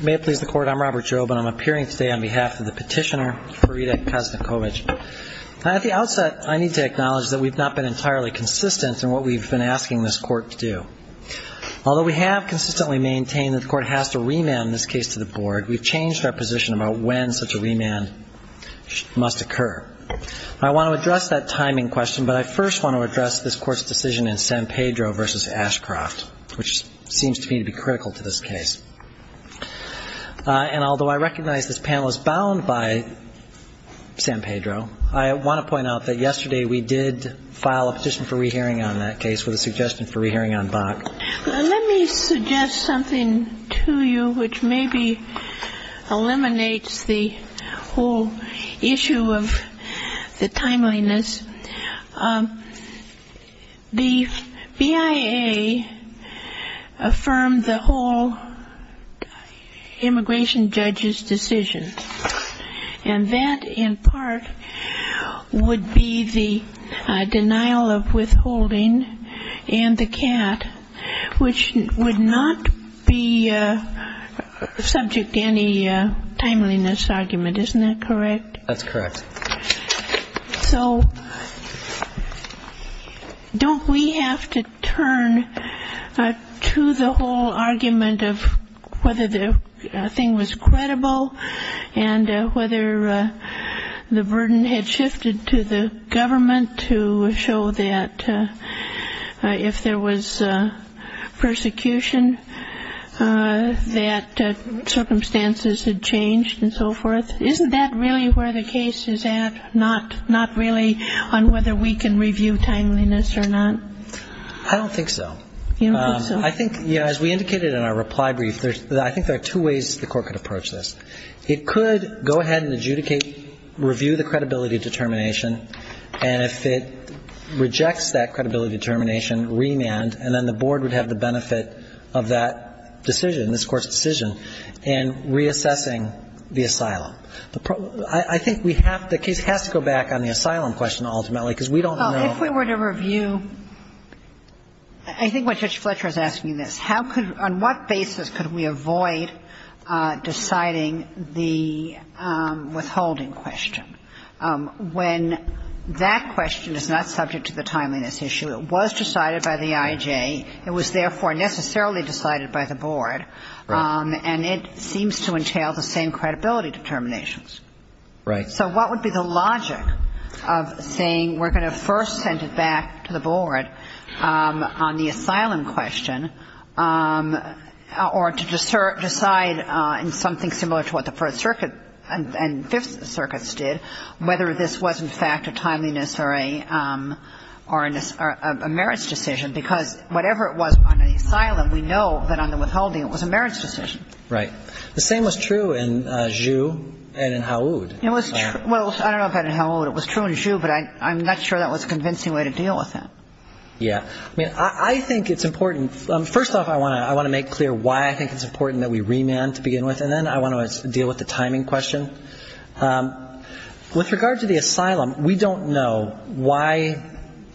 May it please the Court, I'm Robert Jobe and I'm appearing today on behalf of the petitioner, Frida Kasnecovic. At the outset, I need to acknowledge that we've not been entirely consistent in what we've been asking this Court to do. Although we have consistently maintained that the Court has to remand this case to the Board, we've changed our position about when such a remand must occur. I want to address that timing question, but I first want to address this Court's decision in San Pedro v. Ashcroft, which seems to me to be critical to this case. And although I recognize this panel is bound by San Pedro, I want to point out that yesterday we did file a petition for re-hearing on that case with a suggestion for re-hearing on Bach. Let me suggest something to you which maybe eliminates the whole issue of the timeliness. The BIA affirmed the whole immigration judge's decision. And that, in part, would be the denial of withholding and the CAT, which would not be subject to any timeliness argument, isn't that correct? So don't we have to turn to the whole argument of whether the thing was credible and whether the burden had shifted to the government to show that if there was persecution, that circumstances had changed and so forth? Isn't that really where the case is at, not really on whether we can review timeliness or not? I don't think so. You don't think so? I think, as we indicated in our reply brief, I think there are two ways the Court could approach this. It could go ahead and adjudicate, review the credibility determination, and if it rejects that credibility determination, remand, and then the Board would have the benefit of that decision, this Court's decision, in reassessing the asylum. I think the case has to go back on the asylum question, ultimately, because we don't know. Well, if we were to review, I think what Judge Fletcher is asking is this. On what basis could we avoid deciding the withholding question when that question is not subject to the timeliness issue? It was decided by the IJ. It was therefore necessarily decided by the Board. Right. And it seems to entail the same credibility determinations. Right. So what would be the logic of saying we're going to first send it back to the Board on the asylum question, or to decide in something similar to what the First Circuit and Fifth Circuits did, whether this was, in fact, a timeliness or a merits decision? Because whatever it was on the asylum, we know that on the withholding it was a merits decision. Right. The same was true in Zhu and in Haoud. It was true. Well, I don't know about in Haoud. It was true in Zhu, but I'm not sure that was a convincing way to deal with that. Yeah. I mean, I think it's important. First off, I want to make clear why I think it's important that we remand to begin with, and then I want to deal with the timing question. With regard to the asylum, we don't know why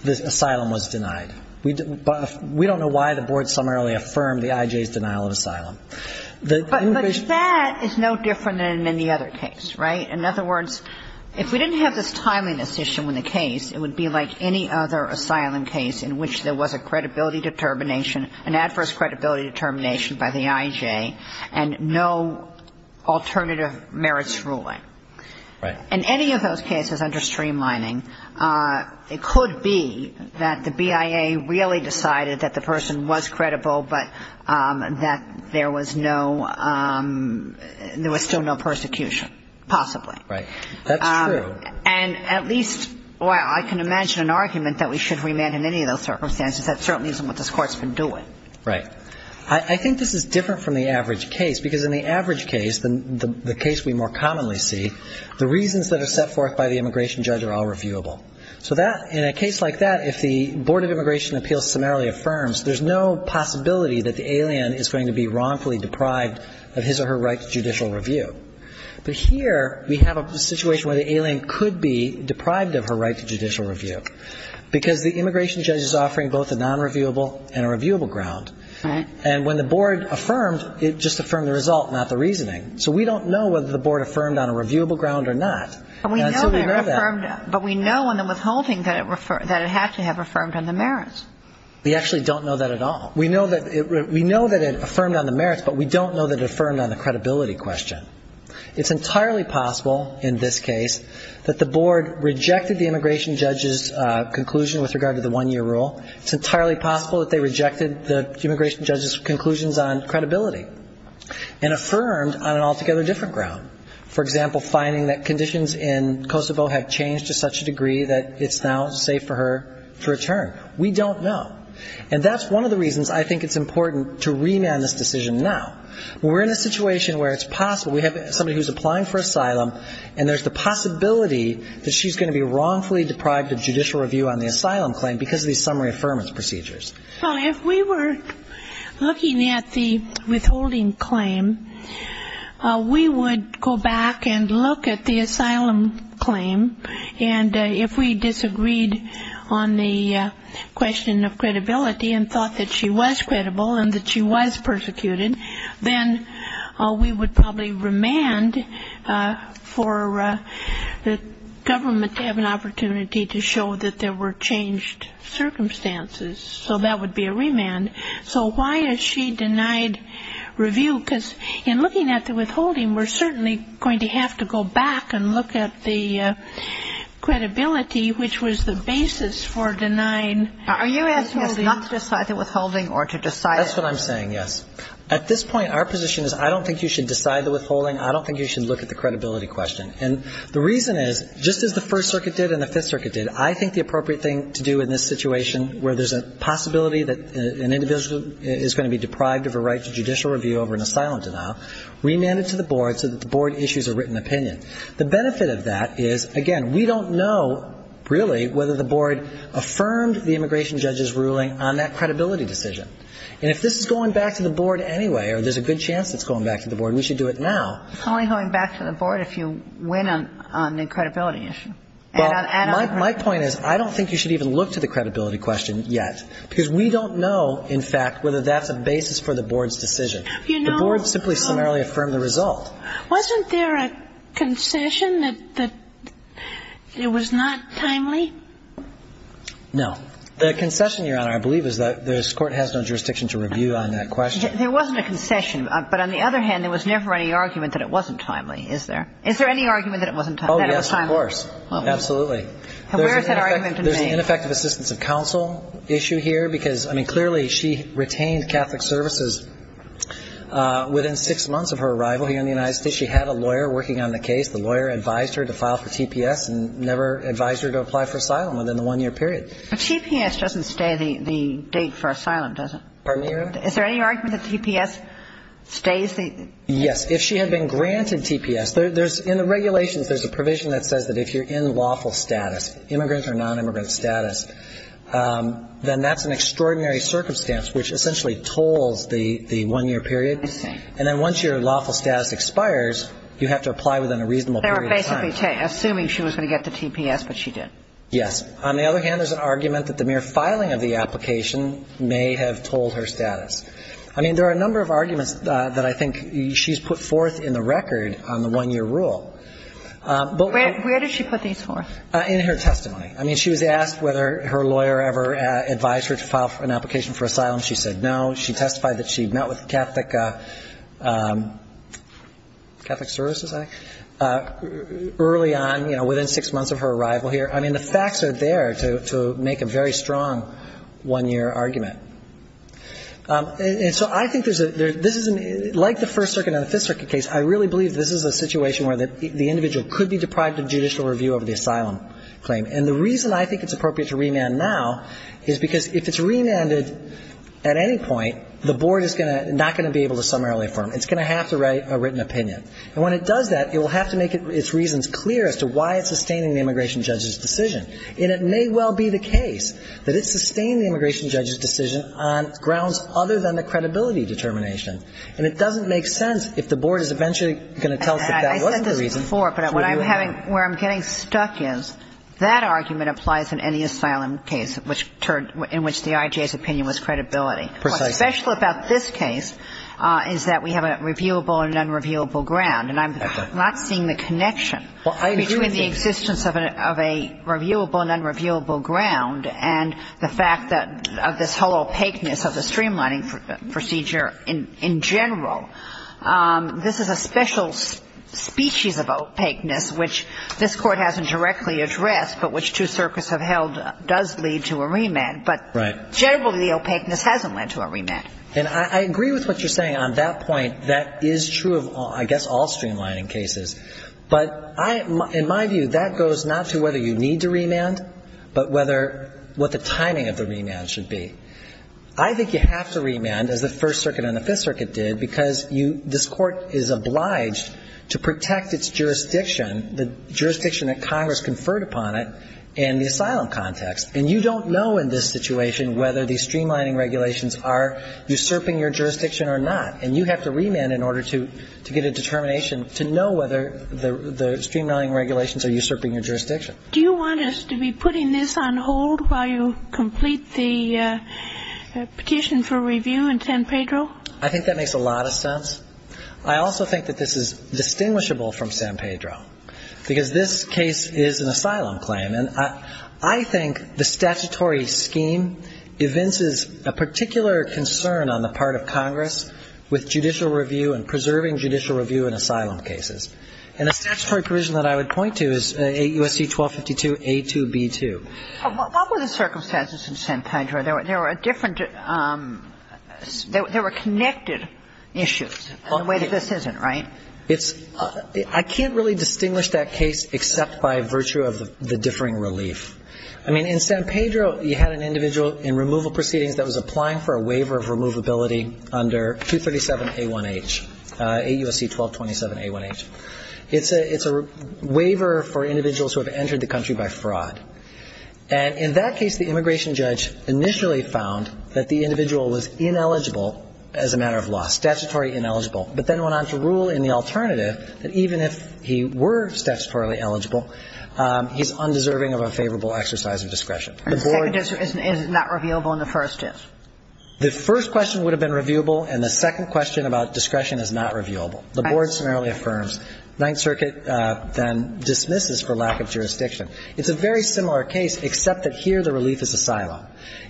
the asylum was denied. We don't know why the Board summarily affirmed the IJ's denial of asylum. But that is no different than any other case, right? In other words, if we didn't have this timeliness issue in the case, it would be like any other asylum case in which there was a credibility determination, an adverse credibility determination by the IJ, and no alternative merits ruling. Right. In any of those cases under streamlining, it could be that the BIA really decided that the person was credible, but that there was still no persecution, possibly. Right. That's true. And at least, well, I can imagine an argument that we should remand in any of those circumstances. That certainly isn't what this Court's been doing. Right. I think this is different from the average case, because in the average case, the case we more commonly see, the reasons that are set forth by the immigration judge are all reviewable. So in a case like that, if the Board of Immigration Appeals summarily affirms, there's no possibility that the alien is going to be wrongfully deprived of his or her right to judicial review. But here we have a situation where the alien could be deprived of her right to judicial review, because the immigration judge is offering both a non-reviewable and a reviewable ground. Right. And when the board affirmed, it just affirmed the result, not the reasoning. So we don't know whether the board affirmed on a reviewable ground or not. But we know on the withholding that it had to have affirmed on the merits. We actually don't know that at all. We know that it affirmed on the merits, but we don't know that it affirmed on the credibility question. It's entirely possible in this case that the board rejected the immigration judge's conclusion with regard to the one-year rule. It's entirely possible that they rejected the immigration judge's conclusions on credibility and affirmed on an altogether different ground. For example, finding that conditions in Kosovo have changed to such a degree that it's now safe for her to return. We don't know. And that's one of the reasons I think it's important to remand this decision now. When we're in a situation where it's possible, we have somebody who's applying for asylum, and there's the possibility that she's going to be wrongfully deprived of judicial review on the asylum claim because of these summary affirmance procedures. Well, if we were looking at the withholding claim, we would go back and look at the asylum claim, and if we disagreed on the question of credibility and thought that she was credible and that she was persecuted, then we would probably remand for the government to have an opportunity to show that there were changed circumstances. So that would be a remand. So why is she denied review? Because in looking at the withholding, we're certainly going to have to go back and look at the credibility, which was the basis for denying the withholding. Are you asking us not to decide the withholding or to decide it? That's what I'm saying, yes. At this point, our position is I don't think you should decide the withholding, I don't think you should look at the credibility question. And the reason is, just as the First Circuit did and the Fifth Circuit did, I think the appropriate thing to do in this situation where there's a possibility that an individual is going to be deprived of a right to judicial review over an asylum denial, remand it to the board so that the board issues a written opinion. The benefit of that is, again, we don't know really whether the board affirmed the immigration judge's ruling on that credibility decision. And if this is going back to the board anyway or there's a good chance it's going back to the board, we should do it now. It's only going back to the board if you win on the credibility issue. Well, my point is I don't think you should even look to the credibility question yet, because we don't know, in fact, whether that's a basis for the board's decision. The board simply summarily affirmed the result. Wasn't there a concession that it was not timely? No. The concession, Your Honor, I believe is that this Court has no jurisdiction to review on that question. There wasn't a concession. But on the other hand, there was never any argument that it wasn't timely, is there? Is there any argument that it wasn't timely? Oh, yes, of course. Absolutely. And where is that argument? There's an ineffective assistance of counsel issue here, because, I mean, clearly she retained Catholic services within six months of her arrival here in the United States. She had a lawyer working on the case. The lawyer advised her to file for TPS and never advised her to apply for asylum within the one-year period. Pardon me, Your Honor? Is there any argument that TPS stays? Yes. If she had been granted TPS. In the regulations, there's a provision that says that if you're in lawful status, immigrant or nonimmigrant status, then that's an extraordinary circumstance, which essentially tolls the one-year period. I see. And then once your lawful status expires, you have to apply within a reasonable period of time. They were basically assuming she was going to get the TPS, but she didn't. Yes. On the other hand, there's an argument that the mere filing of the application may have tolled her status. I mean, there are a number of arguments that I think she's put forth in the record on the one-year rule. Where did she put these forth? In her testimony. I mean, she was asked whether her lawyer ever advised her to file for an application for asylum. She said no. She testified that she met with Catholic Services Act early on, you know, within six months of her arrival here. I mean, the facts are there to make a very strong one-year argument. And so I think there's a ‑‑ like the First Circuit and the Fifth Circuit case, I really believe this is a situation where the individual could be deprived of judicial review over the asylum claim. And the reason I think it's appropriate to remand now is because if it's remanded at any point, the board is not going to be able to summarily affirm. It's going to have to write a written opinion. And when it does that, it will have to make its reasons clear as to why it's sustaining the immigration judge's decision. And it may well be the case that it's sustaining the immigration judge's decision on grounds other than the credibility determination. And it doesn't make sense if the board is eventually going to tell us that that wasn't the reason. And I said this before, but what I'm having ‑‑ where I'm getting stuck is that argument applies in any asylum case, which turned ‑‑ in which the IJA's opinion was credibility. Precisely. And what's special about this case is that we have a reviewable and unreviewable ground. And I'm not seeing the connection between the existence of a reviewable and unreviewable ground and the fact that of this whole opaqueness of the streamlining procedure in general. This is a special species of opaqueness which this Court hasn't directly addressed, but which two circuits have held does lead to a remand. Right. Generally, the opaqueness hasn't led to a remand. And I agree with what you're saying on that point. That is true of, I guess, all streamlining cases. But in my view, that goes not to whether you need to remand, but what the timing of the remand should be. I think you have to remand, as the First Circuit and the Fifth Circuit did, because this Court is obliged to protect its jurisdiction, the jurisdiction that Congress conferred upon it in the asylum context. And you don't know in this situation whether the streamlining regulations are usurping your jurisdiction or not. And you have to remand in order to get a determination to know whether the streamlining regulations are usurping your jurisdiction. Do you want us to be putting this on hold while you complete the petition for review in San Pedro? I think that makes a lot of sense. I also think that this is distinguishable from San Pedro, because this case is an asylum claim. And I think the statutory scheme evinces a particular concern on the part of Congress with judicial review and preserving judicial review in asylum cases. And the statutory provision that I would point to is AUSC 1252A2B2. What were the circumstances in San Pedro? There were different – there were connected issues in the way that this isn't, right? I can't really distinguish that case except by virtue of the differing relief. I mean, in San Pedro, you had an individual in removal proceedings that was applying for a waiver of removability under 237A1H, AUSC 1227A1H. It's a waiver for individuals who have entered the country by fraud. And in that case, the immigration judge initially found that the individual was ineligible as a matter of law, statutory ineligible, but then went on to rule in the alternative that even if he were statutorily eligible, he's undeserving of a favorable exercise of discretion. And second, is it not reviewable in the first case? The first question would have been reviewable, and the second question about discretion is not reviewable. The Board summarily affirms. Ninth Circuit then dismisses for lack of jurisdiction. It's a very similar case, except that here the relief is asylum.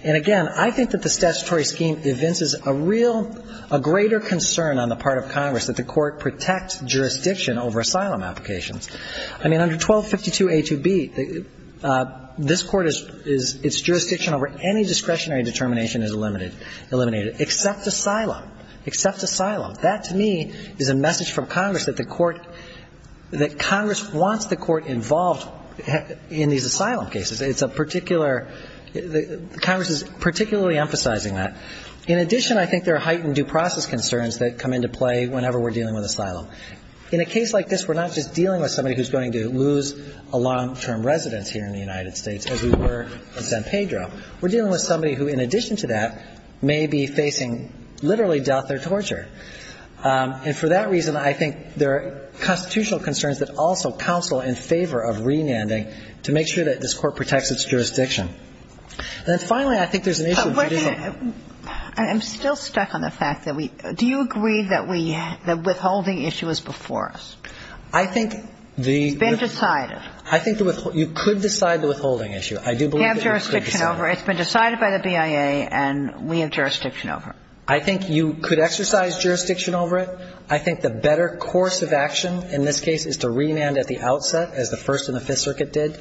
And again, I think that the statutory scheme evinces a real ñ a greater concern on the part of Congress that the Court protect jurisdiction over asylum applications. I mean, under 1252A2B, this Court is ñ its jurisdiction over any discretionary determination is eliminated, except asylum, except asylum. That, to me, is a message from Congress that the Court ñ that Congress wants the Court involved in these asylum cases. It's a particular ñ Congress is particularly emphasizing that. In addition, I think there are heightened due process concerns that come into play whenever we're dealing with asylum. In a case like this, we're not just dealing with somebody who's going to lose a long-term residence here in the United States, as we were in San Pedro. We're dealing with somebody who, in addition to that, may be facing literally death or torture. And for that reason, I think there are constitutional concerns that also counsel in favor of re-landing to make sure that this Court protects its jurisdiction. And then finally, I think there's an issue of judicial ñ But what do you ñ I'm still stuck on the fact that we ñ do you agree that we ñ that withholding issue is before us? I think the ñ It's been decided. I think the ñ you could decide the withholding issue. I do believe that you could decide it. We have jurisdiction over it. It's been decided by the BIA, and we have jurisdiction over it. I think you could exercise jurisdiction over it. I think the better course of action in this case is to re-land at the outset, as the First and the Fifth Circuit did.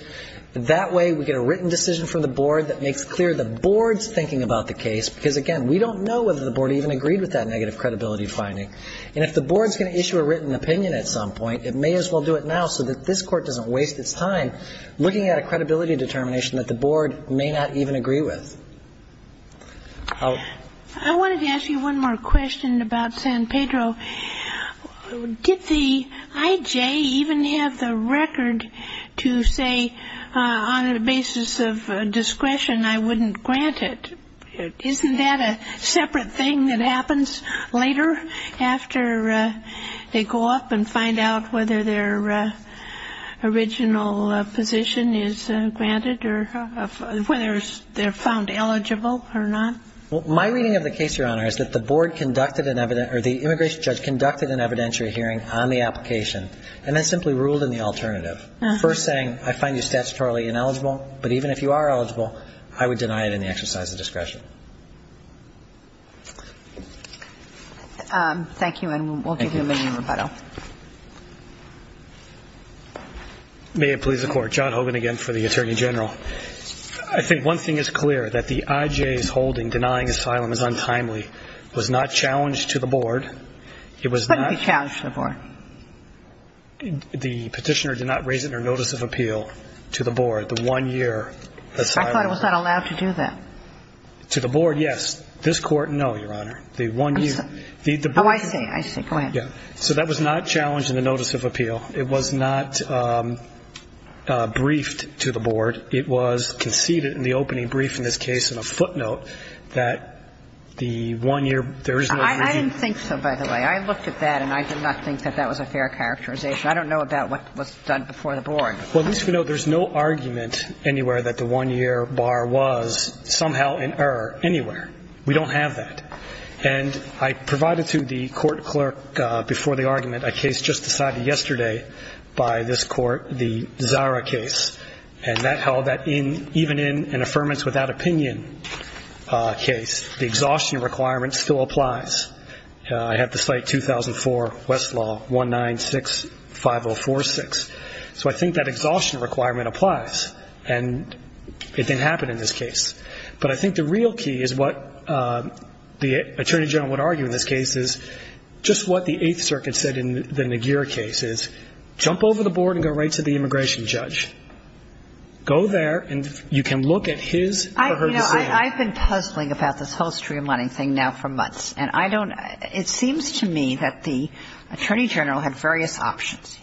That way, we get a written decision from the Board that makes clear the Board's thinking about the case, because, again, we don't know whether the Board even agreed with that negative credibility finding. And if the Board's going to issue a written opinion at some point, it may as well do it now so that this Court doesn't waste its time looking at a credibility determination that the Board may not even agree with. I wanted to ask you one more question about San Pedro. Did the I.J. even have the record to say, on the basis of discretion, I wouldn't grant it? Isn't that a separate thing that happens later after they go up and find out whether their original position is granted or whether they're found eligible or not? My reading of the case, Your Honor, is that the Board conducted an evident or the immigration judge conducted an evidentiary hearing on the application and then simply ruled in the alternative, first saying, I find you statutorily ineligible, but even if you are eligible, I would deny it in the exercise of discretion. Thank you, and we'll give you a minute of rebuttal. May it please the Court. John Hogan again for the Attorney General. I think one thing is clear, that the I.J.'s holding denying asylum is untimely was not challenged to the Board. Couldn't be challenged to the Board. The Petitioner did not raise it in her notice of appeal to the Board, the one year asylum. I thought it was not allowed to do that. To the Board, yes. This Court, no, Your Honor. The one year. Oh, I see. I see. Go ahead. So that was not challenged in the notice of appeal. It was not briefed to the Board. It was conceded in the opening brief in this case in a footnote that the one year, there is no reason. I didn't think so, by the way. I looked at that, and I did not think that that was a fair characterization. I don't know about what was done before the Board. Well, at least we know there's no argument anywhere that the one year bar was somehow in error anywhere. We don't have that. And I provided to the court clerk before the argument a case just decided yesterday by this court, the Zara case. And that held that even in an affirmance without opinion case, the exhaustion requirement still applies. I have to cite 2004 Westlaw 1965046. So I think that exhaustion requirement applies. And it didn't happen in this case. But I think the real key is what the Attorney General would argue in this case is just what the Eighth Circuit said in the McGeer case, is jump over the Board and go right to the immigration judge. You know, I've been puzzling about this whole streamlining thing now for months. And I don't ‑‑ it seems to me that the Attorney General had various options.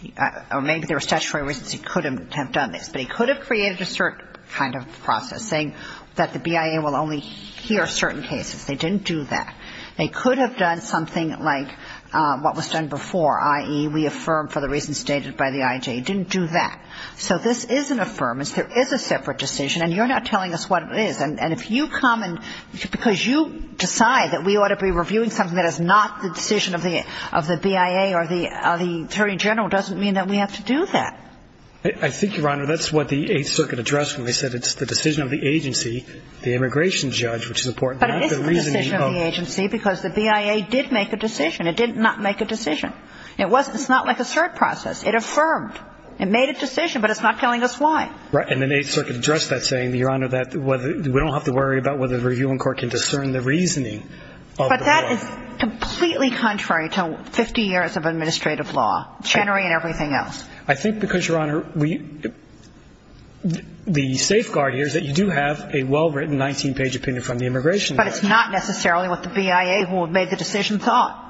Or maybe there were statutory reasons he could have done this. But he could have created a certain kind of process, saying that the BIA will only hear certain cases. They didn't do that. They could have done something like what was done before, i.e., we affirm for the reasons stated by the IJ. He didn't do that. So this is an affirmance. There is a separate decision. And you're not telling us what it is. And if you come and ‑‑ because you decide that we ought to be reviewing something that is not the decision of the BIA or the Attorney General doesn't mean that we have to do that. I think, Your Honor, that's what the Eighth Circuit addressed when they said it's the decision of the agency, the immigration judge, which is important. But it isn't the decision of the agency because the BIA did make a decision. It did not make a decision. It wasn't. It's not like a cert process. It affirmed. It made a decision. But it's not telling us why. Right. And the Eighth Circuit addressed that saying, Your Honor, that we don't have to worry about whether the reviewing court can discern the reasoning of the law. But that is completely contrary to 50 years of administrative law, Chenery and everything else. I think because, Your Honor, the safeguard here is that you do have a well‑written 19‑page opinion from the immigration judge. But it's not necessarily what the BIA, who made the decision, thought.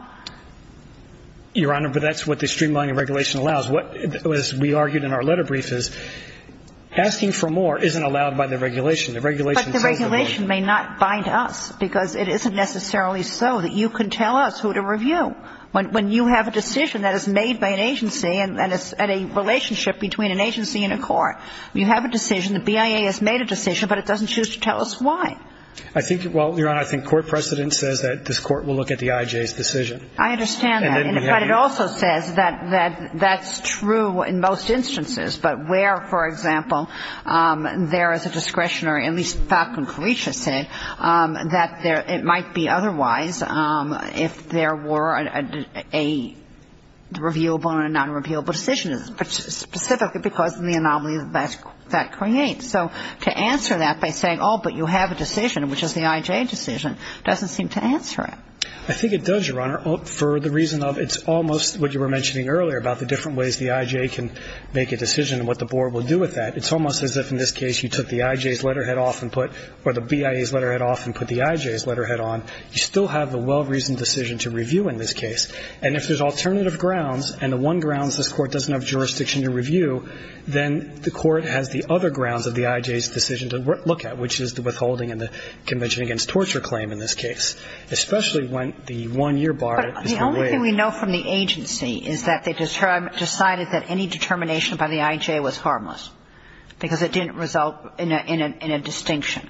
Your Honor, but that's what the streamlining regulation allows. What we argued in our letter brief is asking for more isn't allowed by the regulation. The regulation says that ‑‑ But the regulation may not bind us because it isn't necessarily so that you can tell us who to review. When you have a decision that is made by an agency and it's a relationship between an agency and a court, you have a decision, the BIA has made a decision, but it doesn't choose to tell us why. I think, well, Your Honor, I think court precedent says that this court will look at the IJ's decision. I understand that. But it also says that that's true in most instances. But where, for example, there is a discretionary, at least Falcon Creech has said, that it might be otherwise if there were a reviewable and a nonreviewable decision, specifically because of the anomaly that creates. So to answer that by saying, oh, but you have a decision, which is the IJ decision, doesn't seem to answer it. I think it does, Your Honor, for the reason of it's almost what you were mentioning earlier about the different ways the IJ can make a decision and what the board will do with that. It's almost as if in this case you took the IJ's letterhead off and put, or the BIA's letterhead off and put the IJ's letterhead on. You still have the well‑reasoned decision to review in this case. And if there's alternative grounds and the one grounds this court doesn't have jurisdiction to review, then the court has the other grounds of the IJ's decision to look at, which is the withholding and the Convention Against Torture claim in this case, especially when the one‑year bar is delayed. But the only thing we know from the agency is that they decided that any determination by the IJ was harmless because it didn't result in a distinction.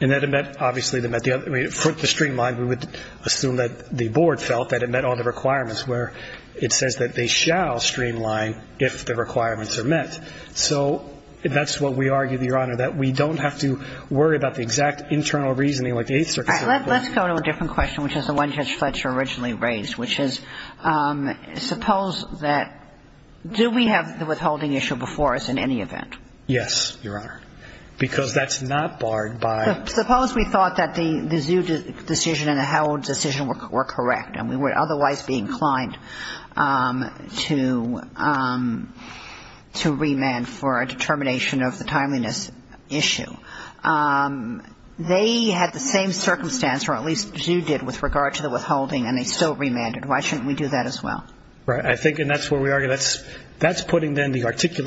And that it meant, obviously, it meant the other. For the streamline, we would assume that the board felt that it met all the requirements, where it says that they shall streamline if the requirements are met. So that's what we argue, Your Honor, that we don't have to worry about the exact internal reasoning like the Eighth Circuit. Let's go to a different question, which is the one Judge Fletcher originally raised, which is suppose that ‑‑ do we have the withholding issue before us in any event? Yes, Your Honor. Because that's not barred by ‑‑ Suppose we thought that the ZHU decision and the Howell decision were correct and we would otherwise be inclined to remand for a determination of the timeliness issue. They had the same circumstance, or at least ZHU did, with regard to the withholding, and they still remanded. Why shouldn't we do that as well? Right. I think, and that's where we argue, that's putting then the,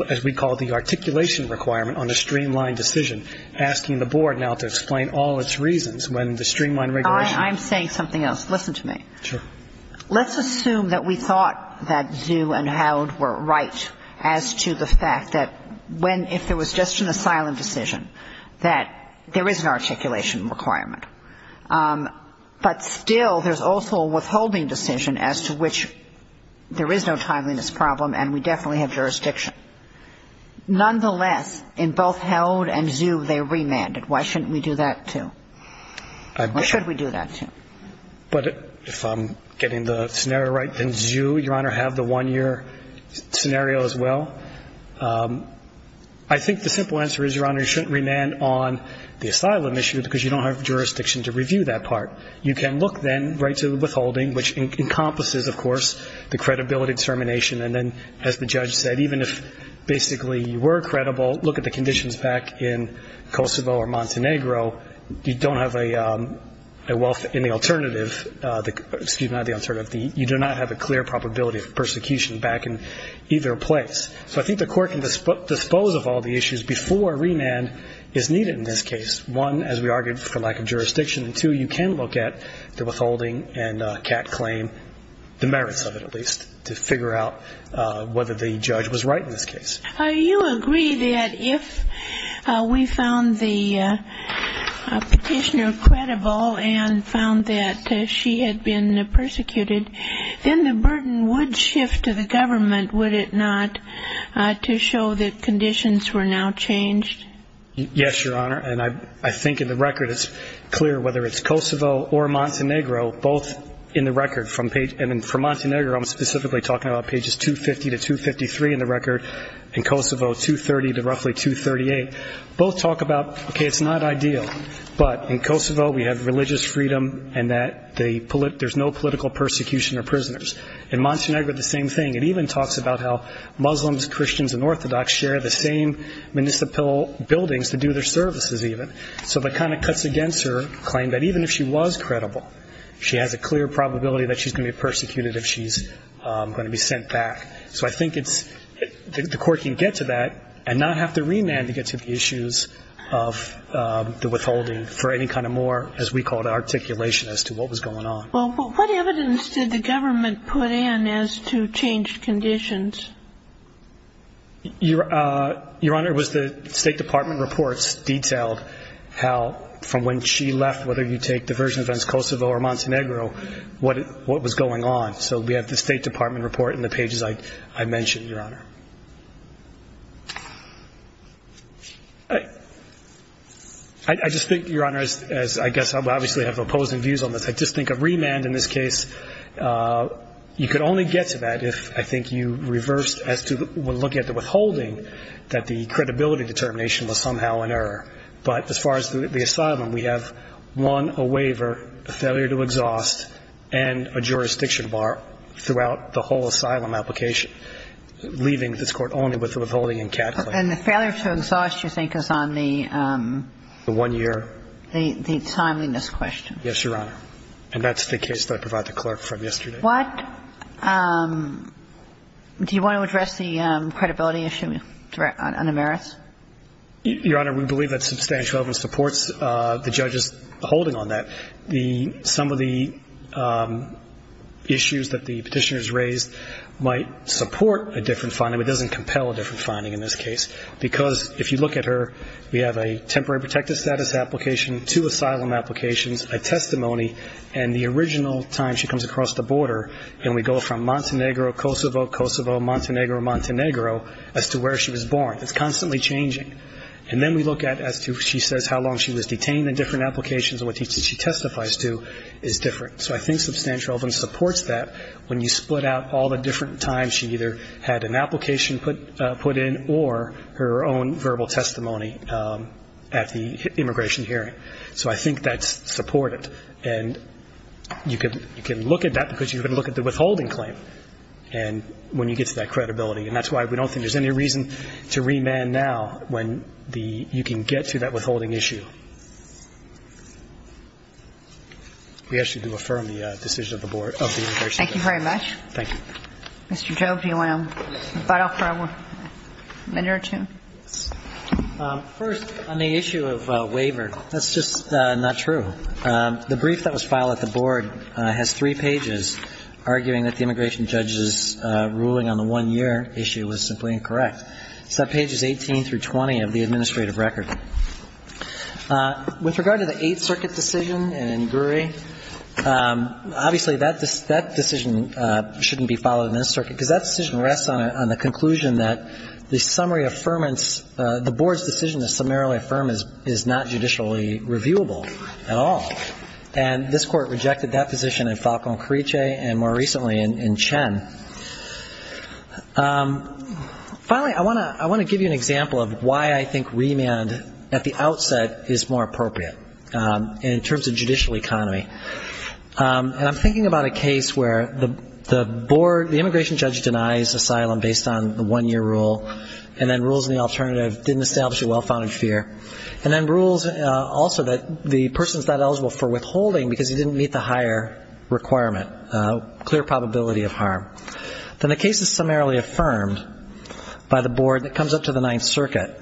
as we call it, the articulation requirement on a streamline decision, asking the board now to explain all its reasons when the streamline regulation ‑‑ I'm saying something else. Listen to me. Sure. Let's assume that we thought that ZHU and Howell were right as to the fact that when, if there was just an asylum decision, that there is an articulation requirement. But still there's also a withholding decision as to which there is no timeliness problem and we definitely have jurisdiction. Nonetheless, in both Howell and ZHU, they remanded. Why shouldn't we do that too? Or should we do that too? But if I'm getting the scenario right, then ZHU, Your Honor, have the one‑year scenario as well. I think the simple answer is, Your Honor, you shouldn't remand on the asylum issue because you don't have jurisdiction to review that part. You can look then right to the withholding, which encompasses, of course, the credibility determination. And then, as the judge said, even if basically you were credible, look at the conditions back in Kosovo or Montenegro, you don't have a wealth in the alternative. Excuse me, not the alternative. You do not have a clear probability of persecution back in either place. So I think the court can dispose of all the issues before remand is needed in this case. One, as we argued, for lack of jurisdiction. And two, you can look at the withholding and CAC claim, the merits of it at least, to figure out whether the judge was right in this case. You agree that if we found the petitioner credible and found that she had been persecuted, then the burden would shift to the government, would it not, to show that conditions were now changed? Yes, Your Honor. And I think in the record it's clear whether it's Kosovo or Montenegro, both in the record. And for Montenegro, I'm specifically talking about pages 250 to 253 in the record. In Kosovo, 230 to roughly 238. Both talk about, okay, it's not ideal, but in Kosovo we have religious freedom and that there's no political persecution or prisoners. In Montenegro, the same thing. It even talks about how Muslims, Christians, and Orthodox share the same municipal buildings to do their services even. So that kind of cuts against her claim that even if she was credible, she has a clear probability that she's going to be persecuted if she's going to be sent back. So I think it's the court can get to that and not have to remand to get to the issues of the withholding for any kind of more, as we call it, articulation as to what was going on. Well, what evidence did the government put in as to changed conditions? Your Honor, it was the State Department reports detailed how from when she left, whether you take the version of Kosovo or Montenegro, what was going on. So we have the State Department report in the pages I mentioned, Your Honor. I just think, Your Honor, as I guess I obviously have opposing views on this, I just think a remand in this case, you could only get to that if, I think, you reversed as to looking at the withholding that the credibility determination was somehow an error. But as far as the asylum, we have one, a waiver, a failure to exhaust, and a jurisdiction bar throughout the whole asylum application, leaving this Court only with the withholding and cataclysm. And the failure to exhaust, you think, is on the one-year? The timeliness question. Yes, Your Honor. And that's the case that I provide the clerk from yesterday. What do you want to address the credibility issue on the merits? Your Honor, we believe that substantial evidence supports the judge's holding on that. Some of the issues that the petitioners raised might support a different finding, but it doesn't compel a different finding in this case, because if you look at her, we have a temporary protective status application, two asylum applications, a testimony, and the original time she comes across the border, and we go from Montenegro, Kosovo, Kosovo, Montenegro, Montenegro, as to where she was born. It's constantly changing. And then we look at as to she says how long she was detained in different applications and what she testifies to is different. So I think substantial evidence supports that when you split out all the different times she either had an application put in or her own verbal testimony at the immigration hearing. So I think that's supported. And you can look at that because you can look at the withholding claim when you get to that credibility. And that's why we don't think there's any reason to remand now when the you can get to that withholding issue. We actually do affirm the decision of the board, of the immigration judge. Thank you very much. Thank you. Mr. Jobe, do you want to butt off for a minute or two? First, on the issue of waiver, that's just not true. The brief that was filed at the board has three pages arguing that the immigration judge's ruling on the one-year issue was simply incorrect. It's on pages 18 through 20 of the administrative record. With regard to the Eighth Circuit decision in Guri, obviously that decision shouldn't be filed in the Eighth Circuit because that decision rests on the conclusion that the summary affirmance, the board's decision to summarily affirm is not judicially reviewable at all. And this court rejected that position in Falcón-Carriche and more recently in Chen. Finally, I want to give you an example of why I think remand at the outset is more appropriate in terms of judicial economy. And I'm thinking about a case where the board, the immigration judge denies asylum based on the one-year rule and then rules in the alternative didn't establish a well-founded fear. And then rules also that the person's not eligible for withholding because he didn't meet the higher requirement, clear probability of harm. Then the case is summarily affirmed by the board that comes up to the Ninth Circuit.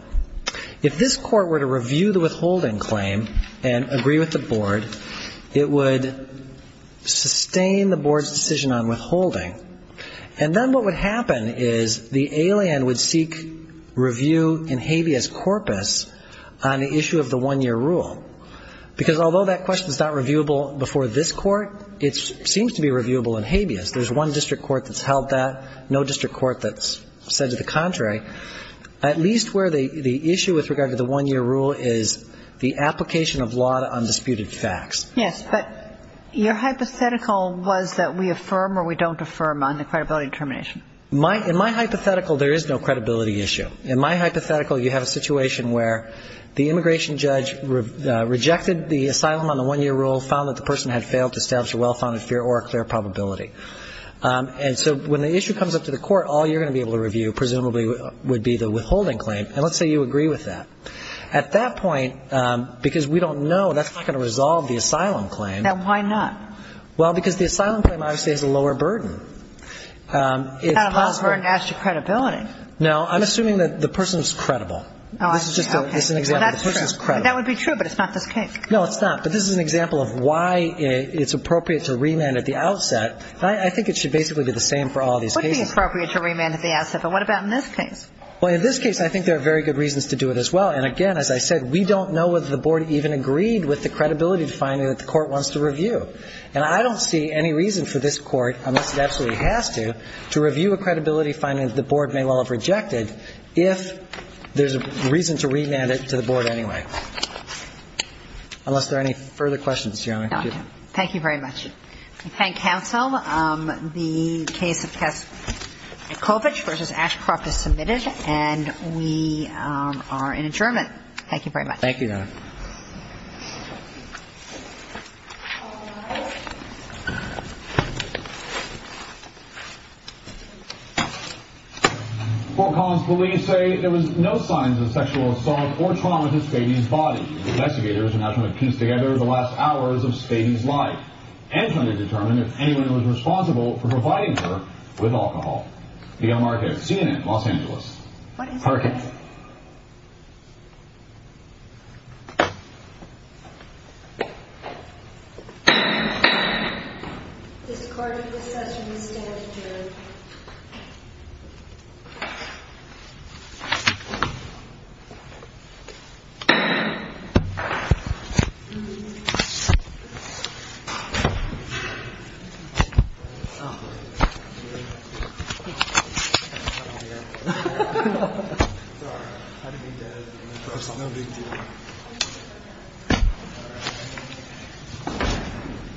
If this court were to review the withholding claim and agree with the board, it would sustain the board's decision on withholding. And then what would happen is the alien would seek review in habeas corpus on the issue of the one-year rule. Because although that question's not reviewable before this court, it seems to be reviewable in habeas. There's one district court that's held that, no district court that's said to the contrary. At least where the issue with regard to the one-year rule is the application of law to undisputed facts. Yes, but your hypothetical was that we affirm or we don't affirm on the credibility determination. In my hypothetical, there is no credibility issue. In my hypothetical, you have a situation where the immigration judge rejected the asylum on the one-year rule, found that the person had failed to establish a well-founded fear or a clear probability. And so when the issue comes up to the court, all you're going to be able to review presumably would be the withholding claim. And let's say you agree with that. At that point, because we don't know, that's not going to resolve the asylum claim. Then why not? Well, because the asylum claim obviously has a lower burden. It's possible. It's got a lower burden as to credibility. No, I'm assuming that the person's credible. Oh, okay. This is just an example. The person's credible. That would be true, but it's not this case. No, it's not. But this is an example of why it's appropriate to remand at the outset. I think it should basically be the same for all these cases. It would be appropriate to remand at the outset, but what about in this case? Well, in this case, I think there are very good reasons to do it as well. And, again, as I said, we don't know whether the board even agreed with the credibility finding that the court wants to review. And I don't see any reason for this court, unless it absolutely has to, to review a credibility finding that the board may well have rejected if there's a reason to remand it to the board anyway. Unless there are any further questions, Your Honor. No, thank you. Thank you very much. Thank you. Thank you, counsel. The case of Kasichovich v. Ashcroft is submitted, and we are in adjournment. Thank you very much. Thank you, Your Honor. Fort Collins police say there was no signs of sexual assault or trauma to Stady's body. Investigators are now trying to piece together the last hours of Stady's life and trying to determine if anyone was responsible for providing her with alcohol. The L. Marquez, CNN, Los Angeles. What is your name? This court is adjourned. Thank you, Your Honor.